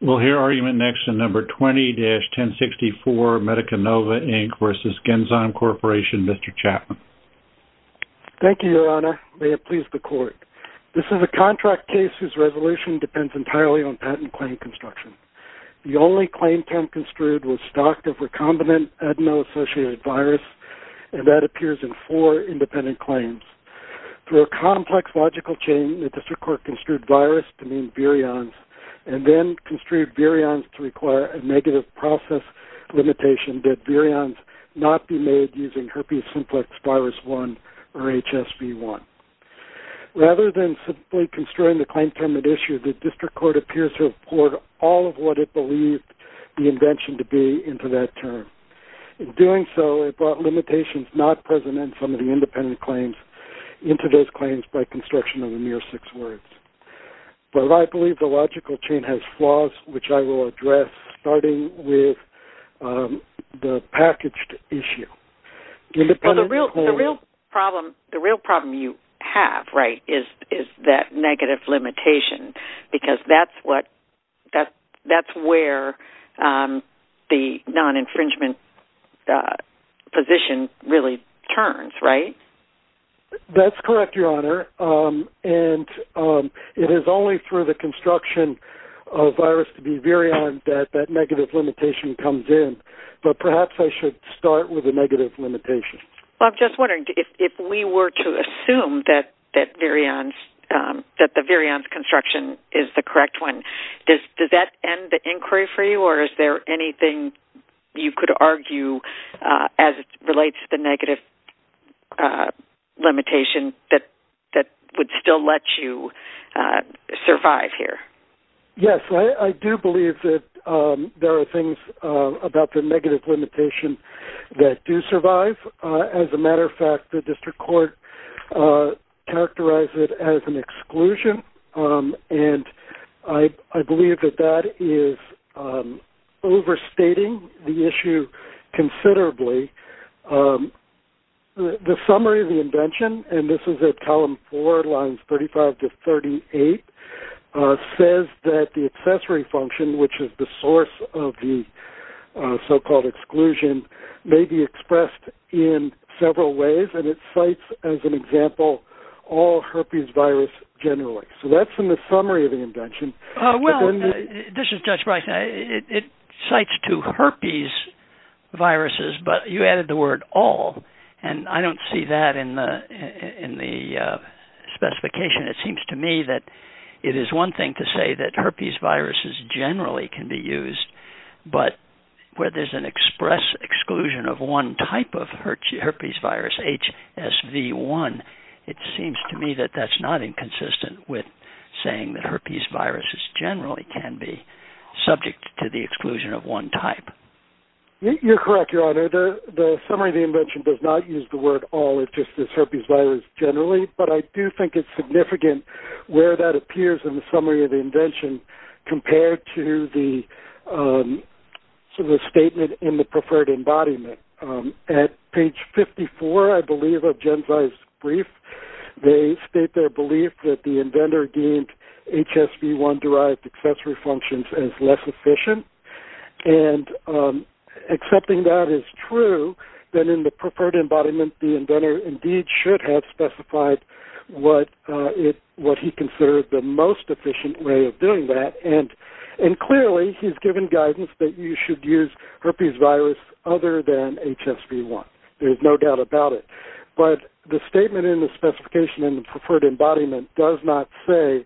We'll hear argument next in No. 20-1064, MediciNova, Inc. v. Genzyme Corporation. Mr. Chapman. Thank you, Your Honor. May it please the Court. This is a contract case whose resolution depends entirely on patent claim construction. The only claim term construed was stocked of recombinant adeno-associated virus, and that appears in four independent claims. Through a complex logical chain, the District Court construed virus to mean virions, and then construed virions to require a negative process limitation that virions not be made using herpes simplex virus 1 or HSV1. Rather than simply construing the claim term at issue, the District Court appears to have poured all of what it believed the invention to be into that term. In doing so, it brought limitations not present in some of the independent claims into those claims by construction of the mere six words. But I believe the logical chain has flaws, which I will address, starting with the packaged issue. Well, the real problem you have, right, is that negative limitation, because that's what-that's where the non-infringement position really turns, right? That's correct, Your Honor. And it is only through the construction of virus to be virion that that negative limitation comes in. But perhaps I should start with the negative limitation. Well, I'm just wondering, if we were to assume that that virions-that the virions construction is the correct one, does that end the inquiry for you, or is there anything you could argue as it relates to the negative limitation that would still let you survive here? Yes. I do believe that there are things about the negative limitation that do survive. As a matter of fact, the District Court characterized it as an exclusion, and I believe that that is overstating the issue considerably. The summary of the invention, and this is at column four, lines 35 to 38, says that the accessory function, which is the source of the so-called exclusion, may be expressed in several ways, and it cites, as an example, all herpes virus generally. So that's in the summary of the invention. Well, this is Judge Breyer. It cites two herpes viruses, but you added the word all, and I don't see that in the specification. It seems to me that it is one thing to say that herpes viruses generally can be used, but where there's an express exclusion of one type of herpes virus, HSV1, it seems to me that that's not inconsistent with saying that herpes viruses generally can be subject to the exclusion of one type. You're correct, Your Honor. The summary of the invention does not use the word all. It just says herpes virus generally, but I do think it's significant where that appears in the summary of the invention compared to the statement in the preferred embodiment. At page 54, I believe, of Genzyme's brief, they state their belief that the inventor deemed HSV1-derived accessory functions as less efficient, and accepting that as true, then in the preferred embodiment, the inventor indeed should have specified what it, what he considered the most efficient way of doing that, and clearly he's given guidance that you should use herpes virus other than HSV1. There's no doubt about it, but the statement in the specification in the preferred embodiment does not say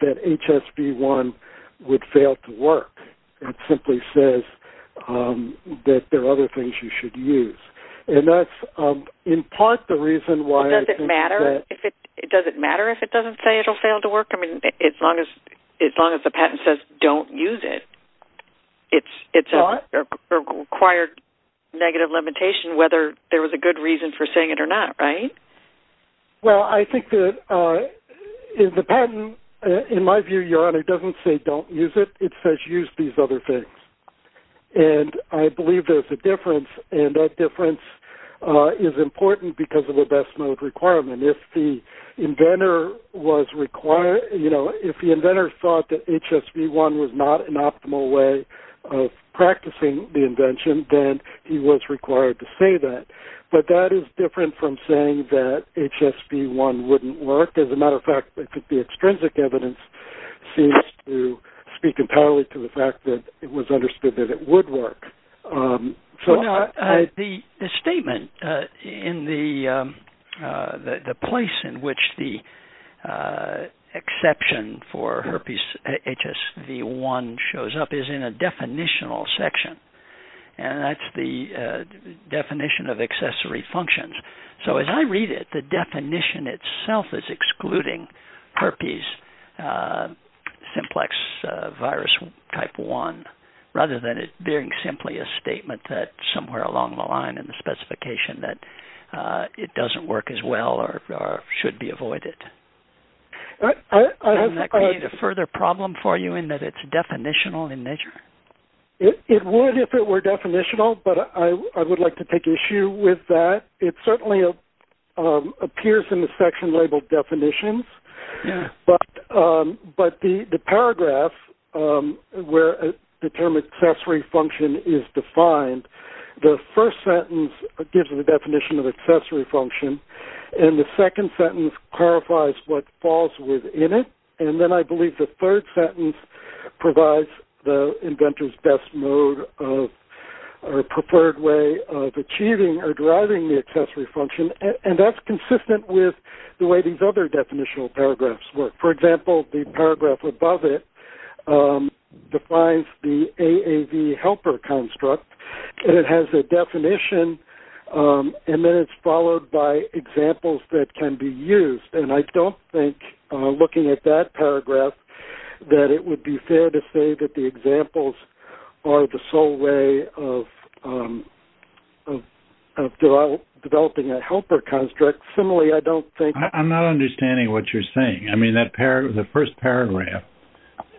that HSV1 would fail to work. It simply says that there are other things you should use, and that's in part the reason why I think that- Does it matter if it, does it matter if it doesn't say it'll fail to work? I mean, as long as, as long as the patent says don't use it, it's a required negative limitation whether there was a good reason for saying it or not, right? Well, I think that in the patent, in my view, Your Honor, it doesn't say don't use it. It says use these other things, and I believe there's a difference, and that difference is important because of the best mode requirement. If the inventor was required, you know, if the inventor thought that HSV1 was not an optimal way of practicing the invention, then he was required to say that, but that is different from saying that HSV1 wouldn't work. As a matter of fact, it could be extrinsic evidence seems to speak entirely to the fact that it was understood that it would work. So- Now, the statement in the, the place in which the exception for herpes HSV1 shows up is in a definitional section, and that's the definition of accessory functions. So, as I read it, the definition itself is excluding herpes simplex virus type 1, rather than it being simply a statement that somewhere along the line in the specification that it doesn't work as well or should be avoided. I have- Doesn't that create a further problem for you in that it's definitional in nature? It would if it were definitional, but I would like to take issue with that. It certainly appears in the section labeled definitions, but the paragraph where the term accessory function is defined, the first sentence gives the definition of accessory function, and the second sentence clarifies what falls within it, and then I believe the third sentence provides the inventor's best mode of, or preferred way of achieving or deriving the accessory function, and that's consistent with the way these other definitional paragraphs work. For example, the paragraph above it defines the AAV helper construct, and it has a definition, and then it's followed by examples that can be used, and I don't think looking at that paragraph that it would be fair to say that the examples are the sole way of developing a helper construct. Similarly, I don't think- I'm not understanding what you're saying. I mean, that paragraph- the first paragraph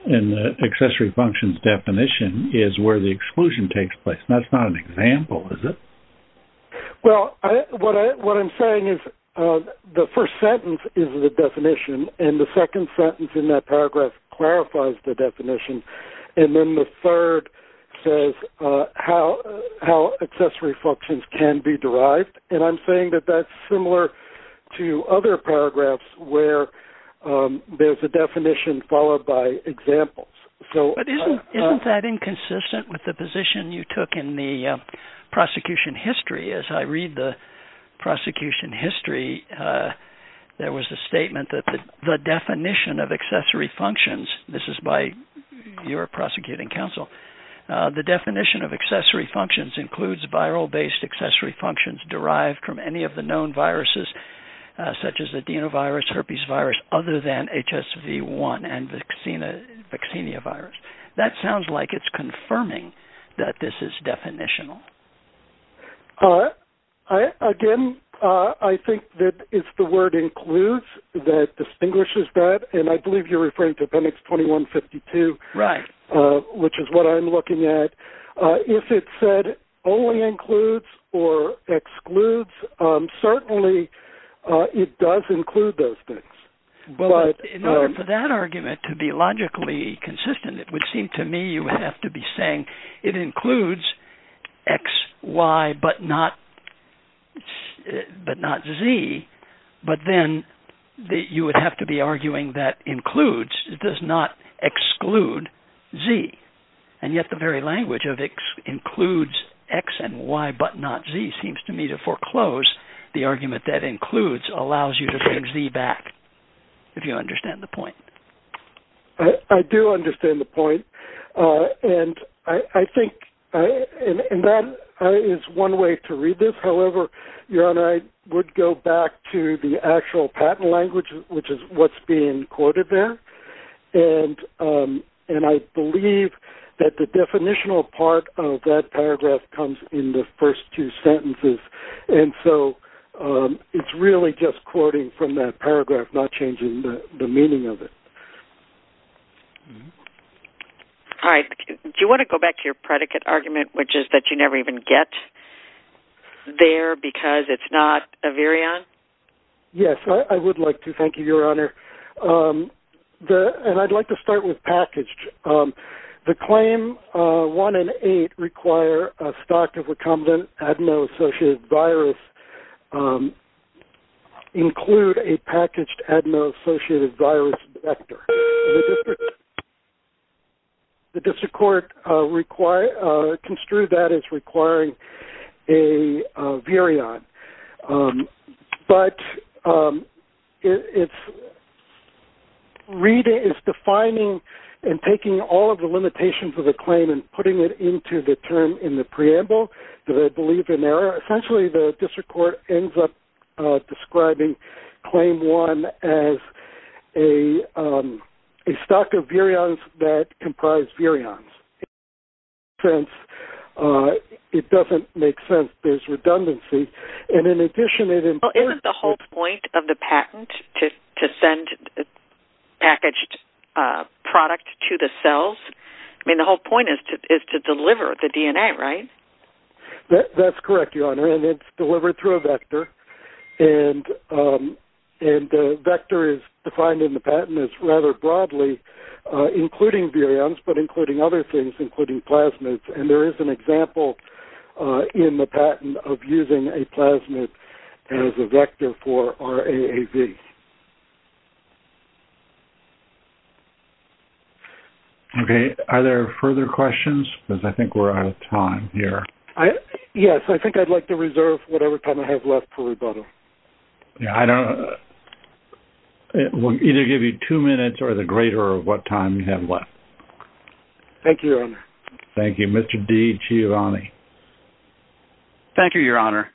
in the accessory function's definition is where the exclusion takes place, and that's not an example, is it? Well, what I'm saying is the first sentence is in the definition, and the second sentence in that paragraph clarifies the definition, and then the third says how accessory functions can be derived, and I'm saying that that's similar to other paragraphs where there's a definition followed by examples, so- But isn't that inconsistent with the position you took in the prosecution history? As I read the prosecution history, there was a statement that the definition of accessory functions-this is by your prosecuting counsel-the definition of accessory functions includes viral-based accessory functions derived from any of the known viruses, such as adenovirus, herpesvirus, other than HSV1 and vaccinia virus. That sounds like it's confirming that this is definitional. Again, I think that it's the word includes that distinguishes that, and I believe you're referring to appendix 2152, which is what I'm looking at. If it said only includes or excludes, certainly it does include those things. In order for that argument to be logically consistent, it would seem to me you have to be saying it includes X, Y, but not Z, but then you would have to be arguing that includes does not exclude Z, and yet the very language of includes X and Y but not Z seems to me to foreclose the argument that includes allows you to bring Z back, if you understand the point. I do understand the point, and I think-and that is one way to read this, however, your honor, I would go back to the actual patent language, which is what's being quoted there, and I believe that the definitional part of that paragraph comes in the first two sentences, and so it's really just quoting from that paragraph, not changing the meaning of it. All right, do you want to go back to your predicate argument, which is that you never even get there because it's not a virion? Yes, I would like to, thank you, your honor, the-and I'd like to start with packaged. The claim one and eight require a stock of recombinant adeno-associated virus include a packaged adeno-associated virus vector. The district court construed that as requiring a virion, but it's redefining and taking all of the limitations of the claim and putting it into the term in the preamble that I believe in error. Essentially, the district court ends up describing claim one as a stock of virions that comprise virions. In that sense, it doesn't make sense. There's redundancy, and in addition, it implies- Well, isn't the whole point of the patent to send packaged product to the cells? I mean, the whole point is to deliver the DNA, right? That's correct, your honor, and it's delivered through a vector, and the vector is defined in the patent as rather broadly, including virions, but including other things, including plasmids, and there is an example in the patent of using a plasmid as a vector for RAAV. Okay. Are there further questions? Because I think we're out of time here. I-yes, I think I'd like to reserve whatever time I have left for rebuttal. Yeah, I don't-we'll either give you two minutes or the greater of what time you have left. Thank you, your honor. Thank you. Mr. D. Giovanni. Thank you, your honor,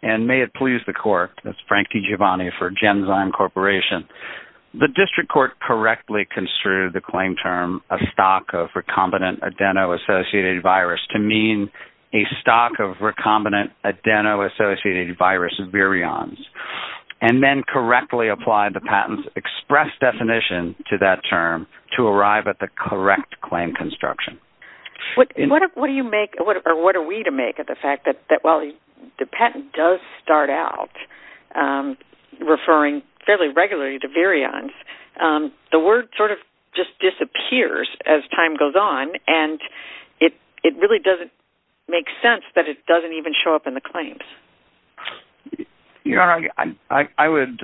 and may it please the court. That's Frankie Giovanni for Genzyme Corporation. The district court correctly construed the claim term a stock of recombinant adeno-associated virus to mean a stock of recombinant adeno-associated virus virions, and then correctly applied the patent's express definition to that term to arrive at the correct claim construction. What do you make-or what are we to make of the fact that while the patent does start out referring fairly regularly to virions, the word sort of just disappears as time goes on, and it really doesn't make sense that it doesn't even show up in the claims. Your honor, I would,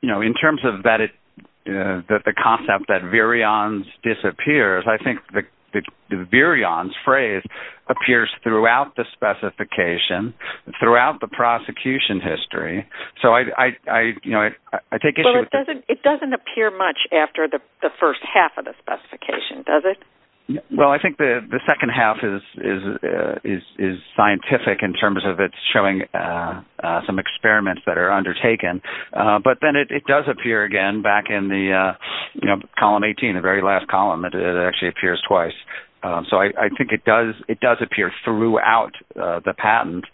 you know, in terms of that it-the concept that virions disappears, I think the virions phrase appears throughout the specification, throughout the prosecution history. So I, you know, I take issue with- Well, it doesn't appear much after the first half of the specification, does it? Well, I think the second half is scientific in terms of it showing some experiments that are undertaken. But then it does appear again back in the, you know, column 18, the very last column. It actually appears twice. So I think it does appear throughout the patent.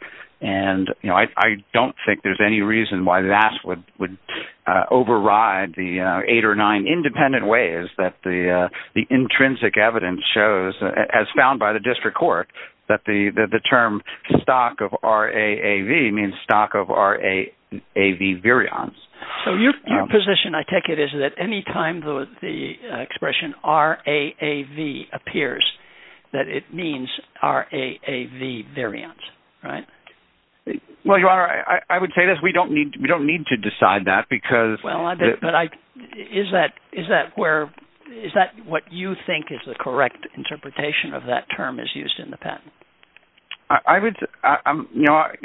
And, you know, I don't think there's any reason why that would override the eight or nine independent ways that the intrinsic evidence shows, as found by the district court, that the term stock of RAAV means stock of RAAV virions. So your position, I take it, is that any time the expression RAAV appears, that it means RAAV virions, right? Well, your honor, I would say that we don't need to decide that because- Well, but I-is that where-is that what you think is the correct interpretation of that term as used in the patent? I would-your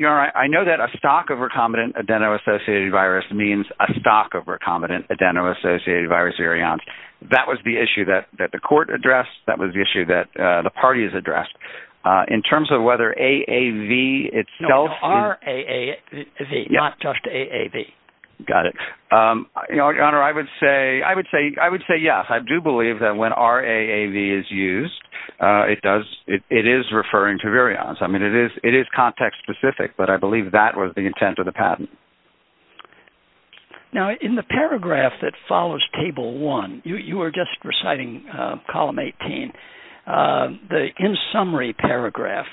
honor, I know that a stock of recombinant adeno-associated virus means a stock of recombinant adeno-associated virus virions. That was the issue that the court addressed. That was the issue that the party has addressed. In terms of whether AAV itself- No, RAAV, not just AAV. Got it. Your honor, I would say, yes, I do believe that when RAAV is used, it does-it is referring to virions. I mean, it is context-specific, but I believe that was the intent of the patent. Now, in the paragraph that follows Table 1-you were just reciting Column 18-the in-summary paragraph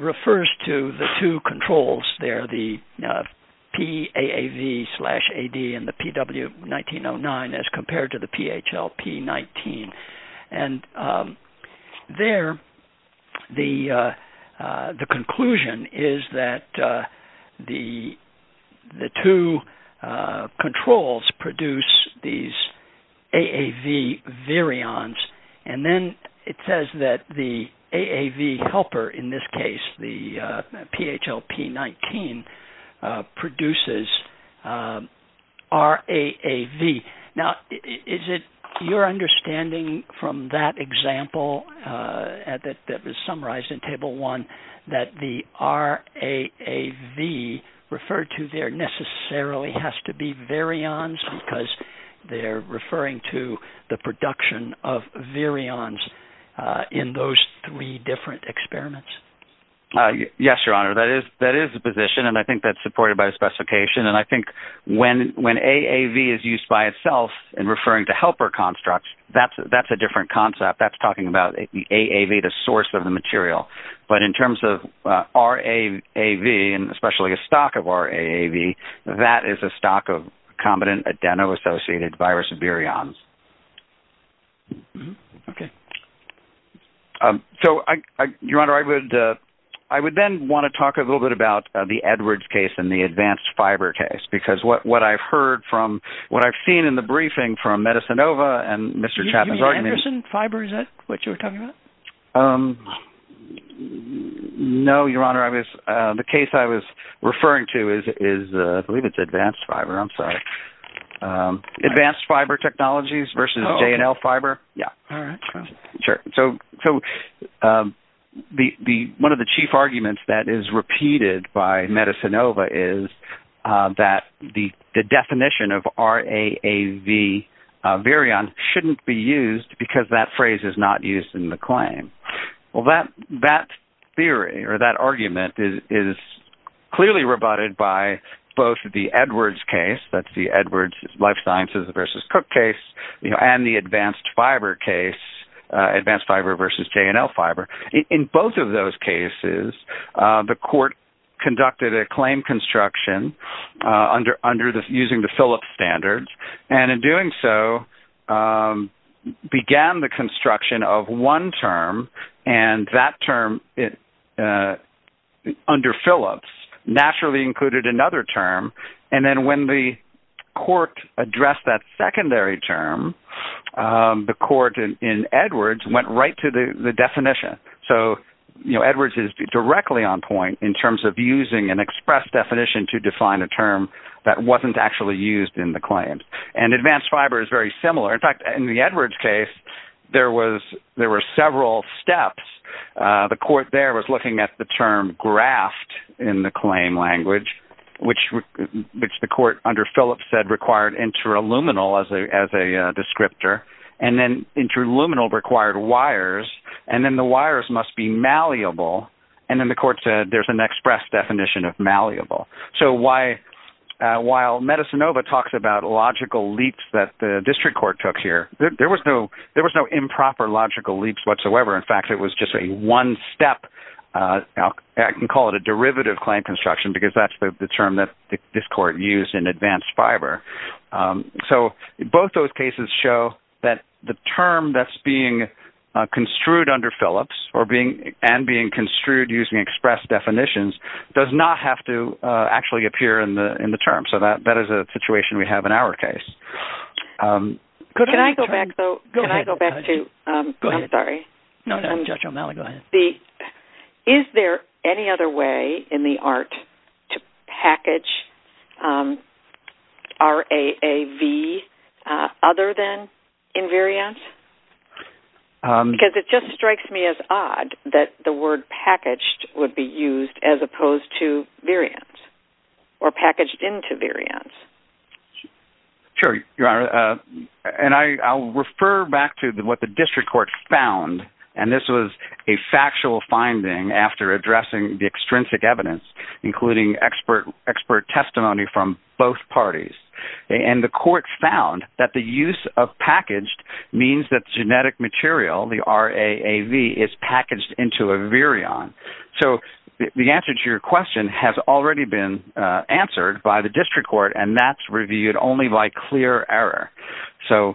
refers to the two controls there, the PAAV slash AD and the PW1909 as compared to the PHLP19. And there, the conclusion is that the two controls produce these AAV virions, and then it says that the AAV helper, in this case, the PHLP19, produces RAAV. Now, is it your understanding from that example that was summarized in Table 1 that the RAAV referred to there necessarily has to be virions because they're referring to the production of virions in those three different experiments? Yes, your honor, that is the position, and I think that's supported by the specification. And I think when AAV is used by itself in referring to helper constructs, that's a different concept. That's talking about the AAV, the source of the material. But in terms of RAAV, and especially a stock of RAAV, that is a stock of combinant adeno-associated virus virions. Okay. So, your honor, I would then want to talk a little bit about the Edwards case and the advanced fiber case, because what I've heard from, what I've seen in the briefing from MedicineOva and Mr. Chapman's argument... You mean Anderson fiber, is that what you were talking about? No, your honor, I was, the case I was referring to is, I believe it's advanced fiber, I'm sorry. Advanced fiber technologies versus J&L fiber. Yeah. All right. Sure. So, one of the chief arguments that is repeated by MedicineOva is that the definition of RAAV virion shouldn't be used because that phrase is not used in the claim. Well, that theory or that argument is clearly rebutted by both the Edwards case, that's the Edwards life sciences versus Cook case, and the advanced fiber case, advanced fiber versus J&L fiber. In both of those cases, the court conducted a claim construction under using the Phillips standards, and in doing so, began the construction of one term, and that term, under Phillips, naturally included another term. And then when the court addressed that secondary term, the court in Edwards went right to the definition. So, you know, Edwards is directly on point in terms of using an express definition to define a term that wasn't actually used in the claim. And advanced fiber is very similar. In fact, in the Edwards case, there were several steps. The court there was looking at the term graft in the claim language, which the court under Phillips said required interluminal as a descriptor, and then interluminal required wires, and then the wires must be malleable, and then the court said there's an express definition of malleable. So while Medicinova talks about logical leaps that the district court took here, there was no improper logical leaps whatsoever. In fact, it was just a one-step, I can call it a derivative claim construction because that's the term that this court used in advanced fiber. So both those cases show that the term that's being construed under Phillips and being construed using express definitions does not have to actually appear in the term. So that is a situation we have in our case. Could I go back, though? Can I go back to, I'm sorry. No, no, Judge O'Malley, go ahead. Is there any other way in the art to package RAAV other than invariance? Because it just strikes me as odd that the word packaged would be used as opposed to variance or packaged into variance. Sure, Your Honor, and I'll refer back to what the district court found, and this was a factual finding after addressing the extrinsic evidence, including expert testimony from both parties. And the court found that the use of packaged means that genetic material, the RAAV, is packaged into a virion. So the answer to your question has already been answered by the district court, and that's reviewed only by clear error. So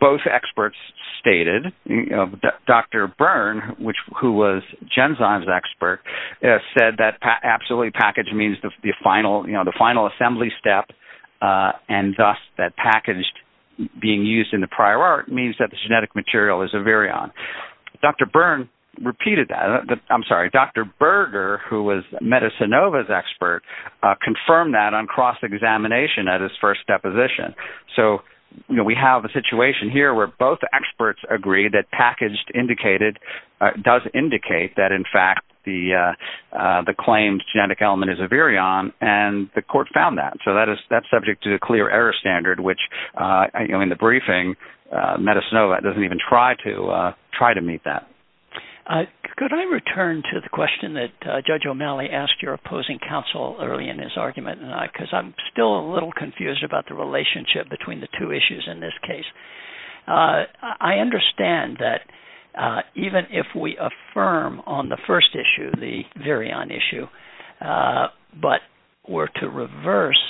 both experts stated, you know, Dr. Byrne, who was Genzyme's expert, said that absolutely package means the final, you know, the final assembly step, and thus that packaged being used in the prior art means that the genetic material is a virion. Dr. Byrne repeated that. I'm sorry, Dr. Berger, who was Metasinova's expert, confirmed that on cross-examination at his first deposition. So, you know, we have a situation here where both experts agree that packaged indicated, does indicate that in fact the claimed genetic element is a virion, and the court found that. So that is subject to clear error standard, which, you know, in the briefing, Metasinova doesn't even try to try to meet that. Could I return to the question that Judge O'Malley asked your opposing counsel early in his argument, because I'm still a little confused about the relationship between the two issues in this case. I understand that even if we affirm on the first issue, the virion issue, but were to reverse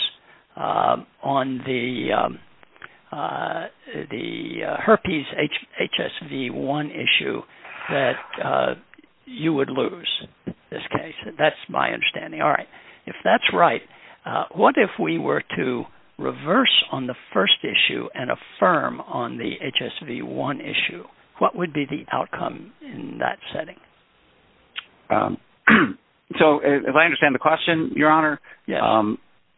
on the herpes HSV-1 issue, that you would lose this case. That's my understanding. All right. If that's right, what if we were to reverse on the first issue and affirm on the HSV-1 issue? What would be the outcome in that setting? So if I understand the question, Your Honor,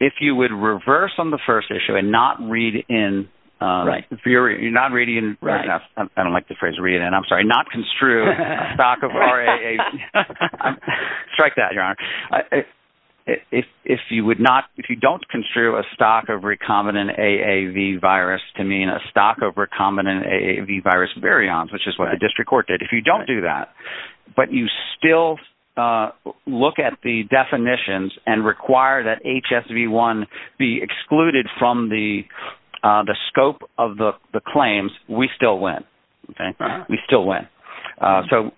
if you would reverse on the first issue and not read in, you're not reading, I don't like the phrase read in, I'm sorry, not construe a stock of RAAV, strike that, Your Honor. If you would not, if you don't construe a stock of recombinant AAV virus to mean a stock of recombinant AAV virus virions, which is what the district court did, if you don't do that, but you still look at the definitions and require that HSV-1 be excluded from the scope of the claims, we still win, okay? We still win. So,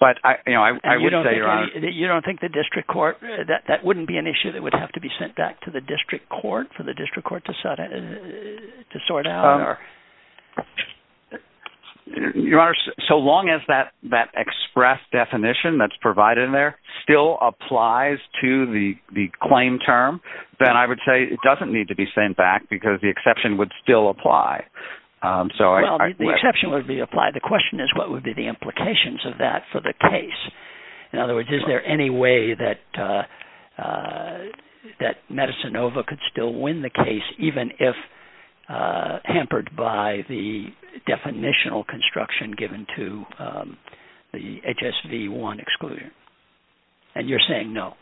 but I, you know, I would say, Your Honor. You don't think the district court, that wouldn't be an issue that would have to be sent back to the district court for the district court to sort out? Your Honor, so long as that express definition that's provided in there still applies to the claim term, then I would say it doesn't need to be sent back because the exception would still apply. So I. Well, the exception would be applied. The question is what would be the implications of that for the case? In other words, is there any way that Medicinova could still win the case, even if hampered by the definitional construction given to the HSV-1 exclusion? And you're saying no.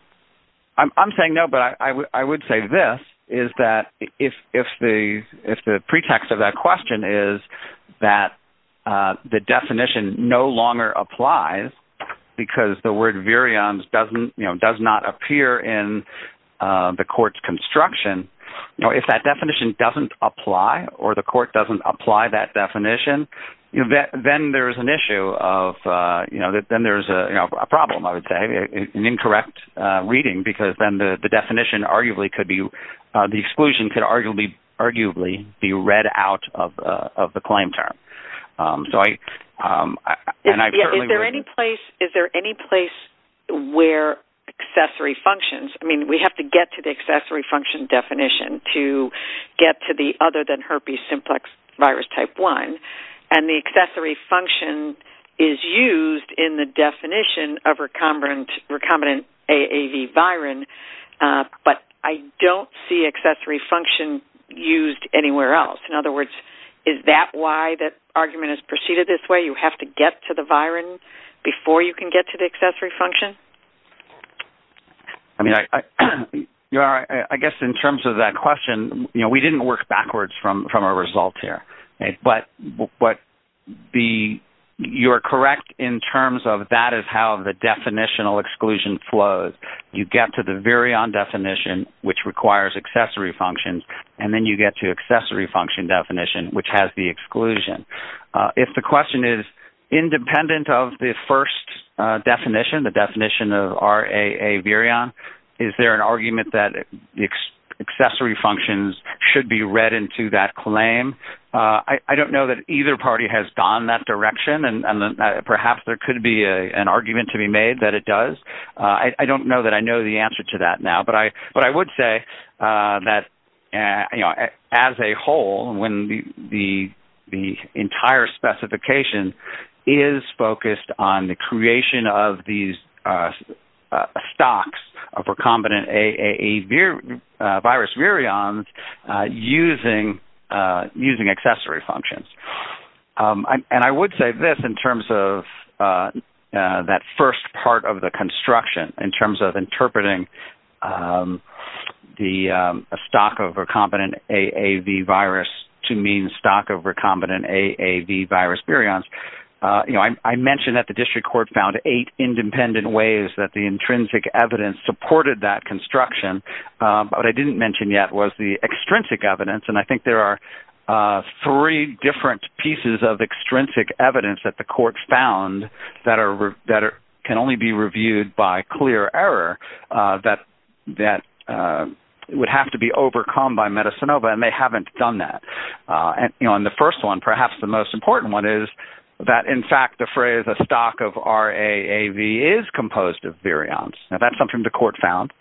I'm saying no, but I would say this is that if the pretext of that question is that the definition no longer applies because the word virions doesn't, you know, does not appear in the court's construction, you know, if that definition doesn't apply or the court doesn't apply that definition, then there's an issue of, you know, then there's a problem, I would say, an incorrect reading because then the definition arguably could be, the exclusion could arguably be read out of the claim term. So I. Yeah, is there any place where accessory functions, I mean, we have to get to the accessory function definition to get to the other than herpes simplex virus type 1 and the accessory function is used in the definition of recombinant AAV virin, but I don't see accessory function used anywhere else. In other words, is that why that argument is preceded this way? You have to get to the virin before you can get to the accessory function? I mean, I guess in terms of that question, you know, we didn't work backwards from our results here, but the, you're correct in terms of that is how the definitional exclusion flows. You get to the virion definition which requires accessory functions and then you get to accessory function definition which has the exclusion. If the question is independent of the first definition, the definition of RAA virion, is there an argument that accessory functions should be read into that claim? I don't know that either party has gone that direction and perhaps there could be an argument to be made that it does. I don't know that I know the answer to that now, but I would say that, you know, as a whole, when the entire specification is focused on the creation of these stocks of recombinant AAV virus virions using accessory functions. And I would say this in terms of that first part of the construction in terms of interpreting the stock of recombinant AAV virus to mean stock of recombinant AAV virus virions. You know, I mentioned that the district court found eight independent ways that the intrinsic evidence supported that construction, but what I didn't mention yet was the extrinsic evidence. And I think there are three different pieces of extrinsic evidence that the court found that can only be reviewed by clear error that would have to be overcome by Medicinova and they haven't done that. And, you know, on the first one, perhaps the most important one is that, in fact, the phrase a stock of RAAV is composed of virions. Now, that's something the court found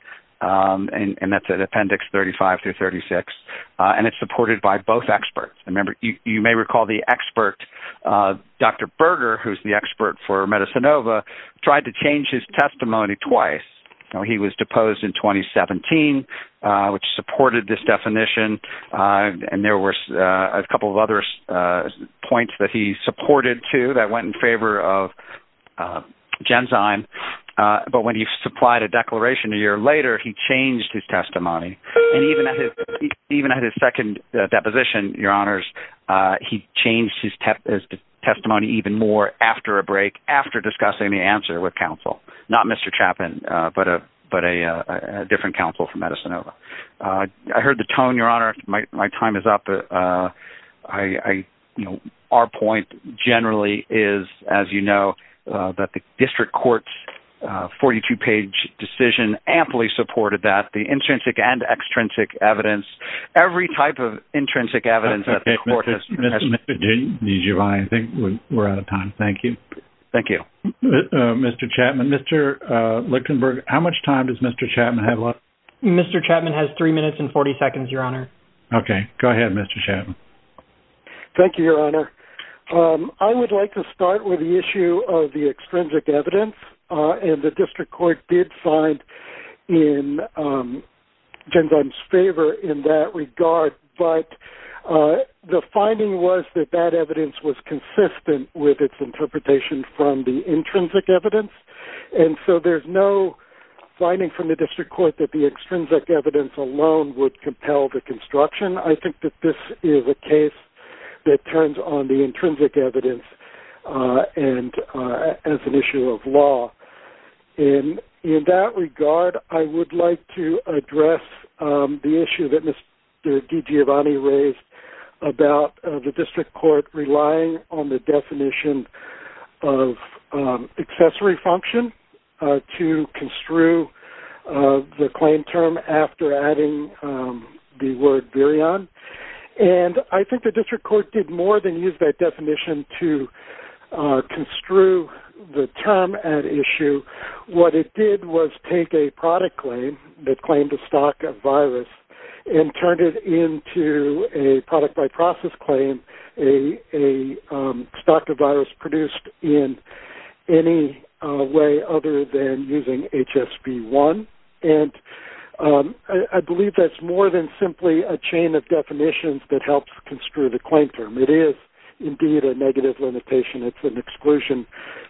and that's in Appendix 35 through 36 and it's supported by both experts. Remember, you may recall the expert, Dr. Berger, who's the expert for Medicinova, tried to change his testimony twice. Now, he was deposed in 2017, which supported this definition and there were a couple of other points that he supported, too, that went in favor of Genzyme. But when he supplied a declaration a year later, he changed his testimony. And even at his second deposition, Your Honors, he changed his testimony even more after a break after discussing the answer with counsel, not Mr. Chapman, but a different counsel from Medicinova. I heard the tone, Your Honor. My time is up. I, you know, our point generally is, as you know, that the district court's 42-page decision amply supported that, the intrinsic and extrinsic evidence, every type of intrinsic evidence that the court has. I think we're out of time. Thank you. Thank you. Mr. Chapman, Mr. Lichtenberg, how much time does Mr. Chapman have left? Mr. Chapman has 3 minutes and 40 seconds, Your Honor. Okay. Go ahead, Mr. Chapman. Thank you, Your Honor. I would like to start with the issue of the extrinsic evidence and the district court did find in Genzyme's favor in that regard, but the finding was that that evidence was consistent with its interpretation from the intrinsic evidence. And so there's no finding from the district court that the extrinsic evidence alone would compel the construction. I think that this is a case that turns on the intrinsic evidence and as an issue of law. In that regard, I would like to address the issue that Mr. DiGiovanni raised about the district court relying on the definition of accessory function to construe the claim term after adding the word virion. And I think the district court did more than use that definition to construe the term at issue. What it did was take a product claim that claimed a stock of virus and turned it into a product by process claim, a stock of virus produced in any way other than using HSV-1. And I believe that's more than simply a chain of definitions that helps construe the claim term. It is indeed a negative limitation. It's an exclusion,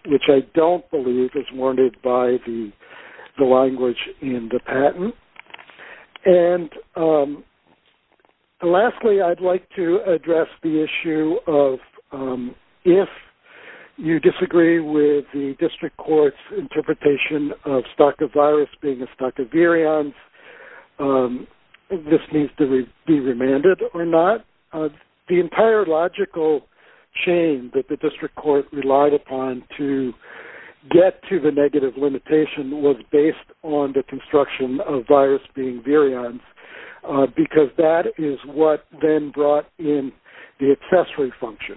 which I don't believe is warranted by the language in the patent. And lastly, I'd like to address the issue of if you disagree with the district court's interpretation of stock of virus being a stock of virions, this needs to be remanded or not. The entire logical chain that the district court relied upon to get to the negative limitation was based on the construction of virus being virions, because that is what then brought in the accessory function.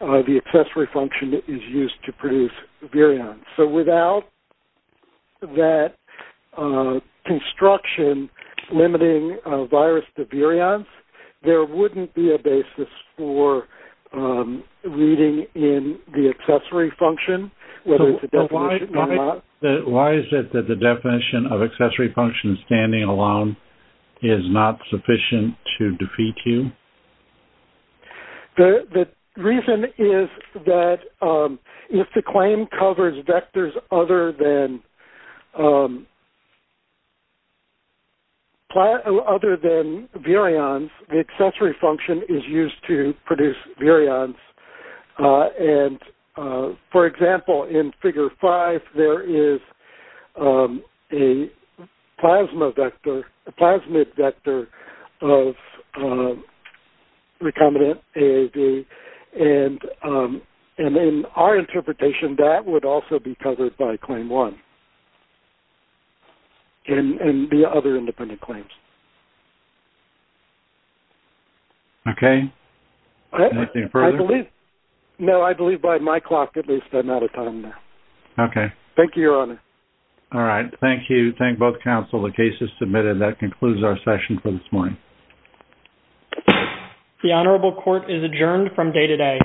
The accessory function is used to produce virions. So without that construction limiting virus to virions, there wouldn't be a basis for reading in the accessory function, whether it's a definition or not. Why is it that the definition of accessory function standing alone is not sufficient to defeat you? The reason is that if the claim covers vectors other than virions, the accessory function is used to produce virions. And for example, in figure five, there is a plasma vector, a plasmid vector of recombinant AAV. And in our interpretation, that would also be covered by claim one and the other independent claims. Okay. Anything further? No, I believe by my clock, at least, I'm out of time now. Okay. Thank you, Your Honor. All right. Thank you. Thank both counsel. The case is submitted. That concludes our session for this morning. The Honorable Court is adjourned from day to day.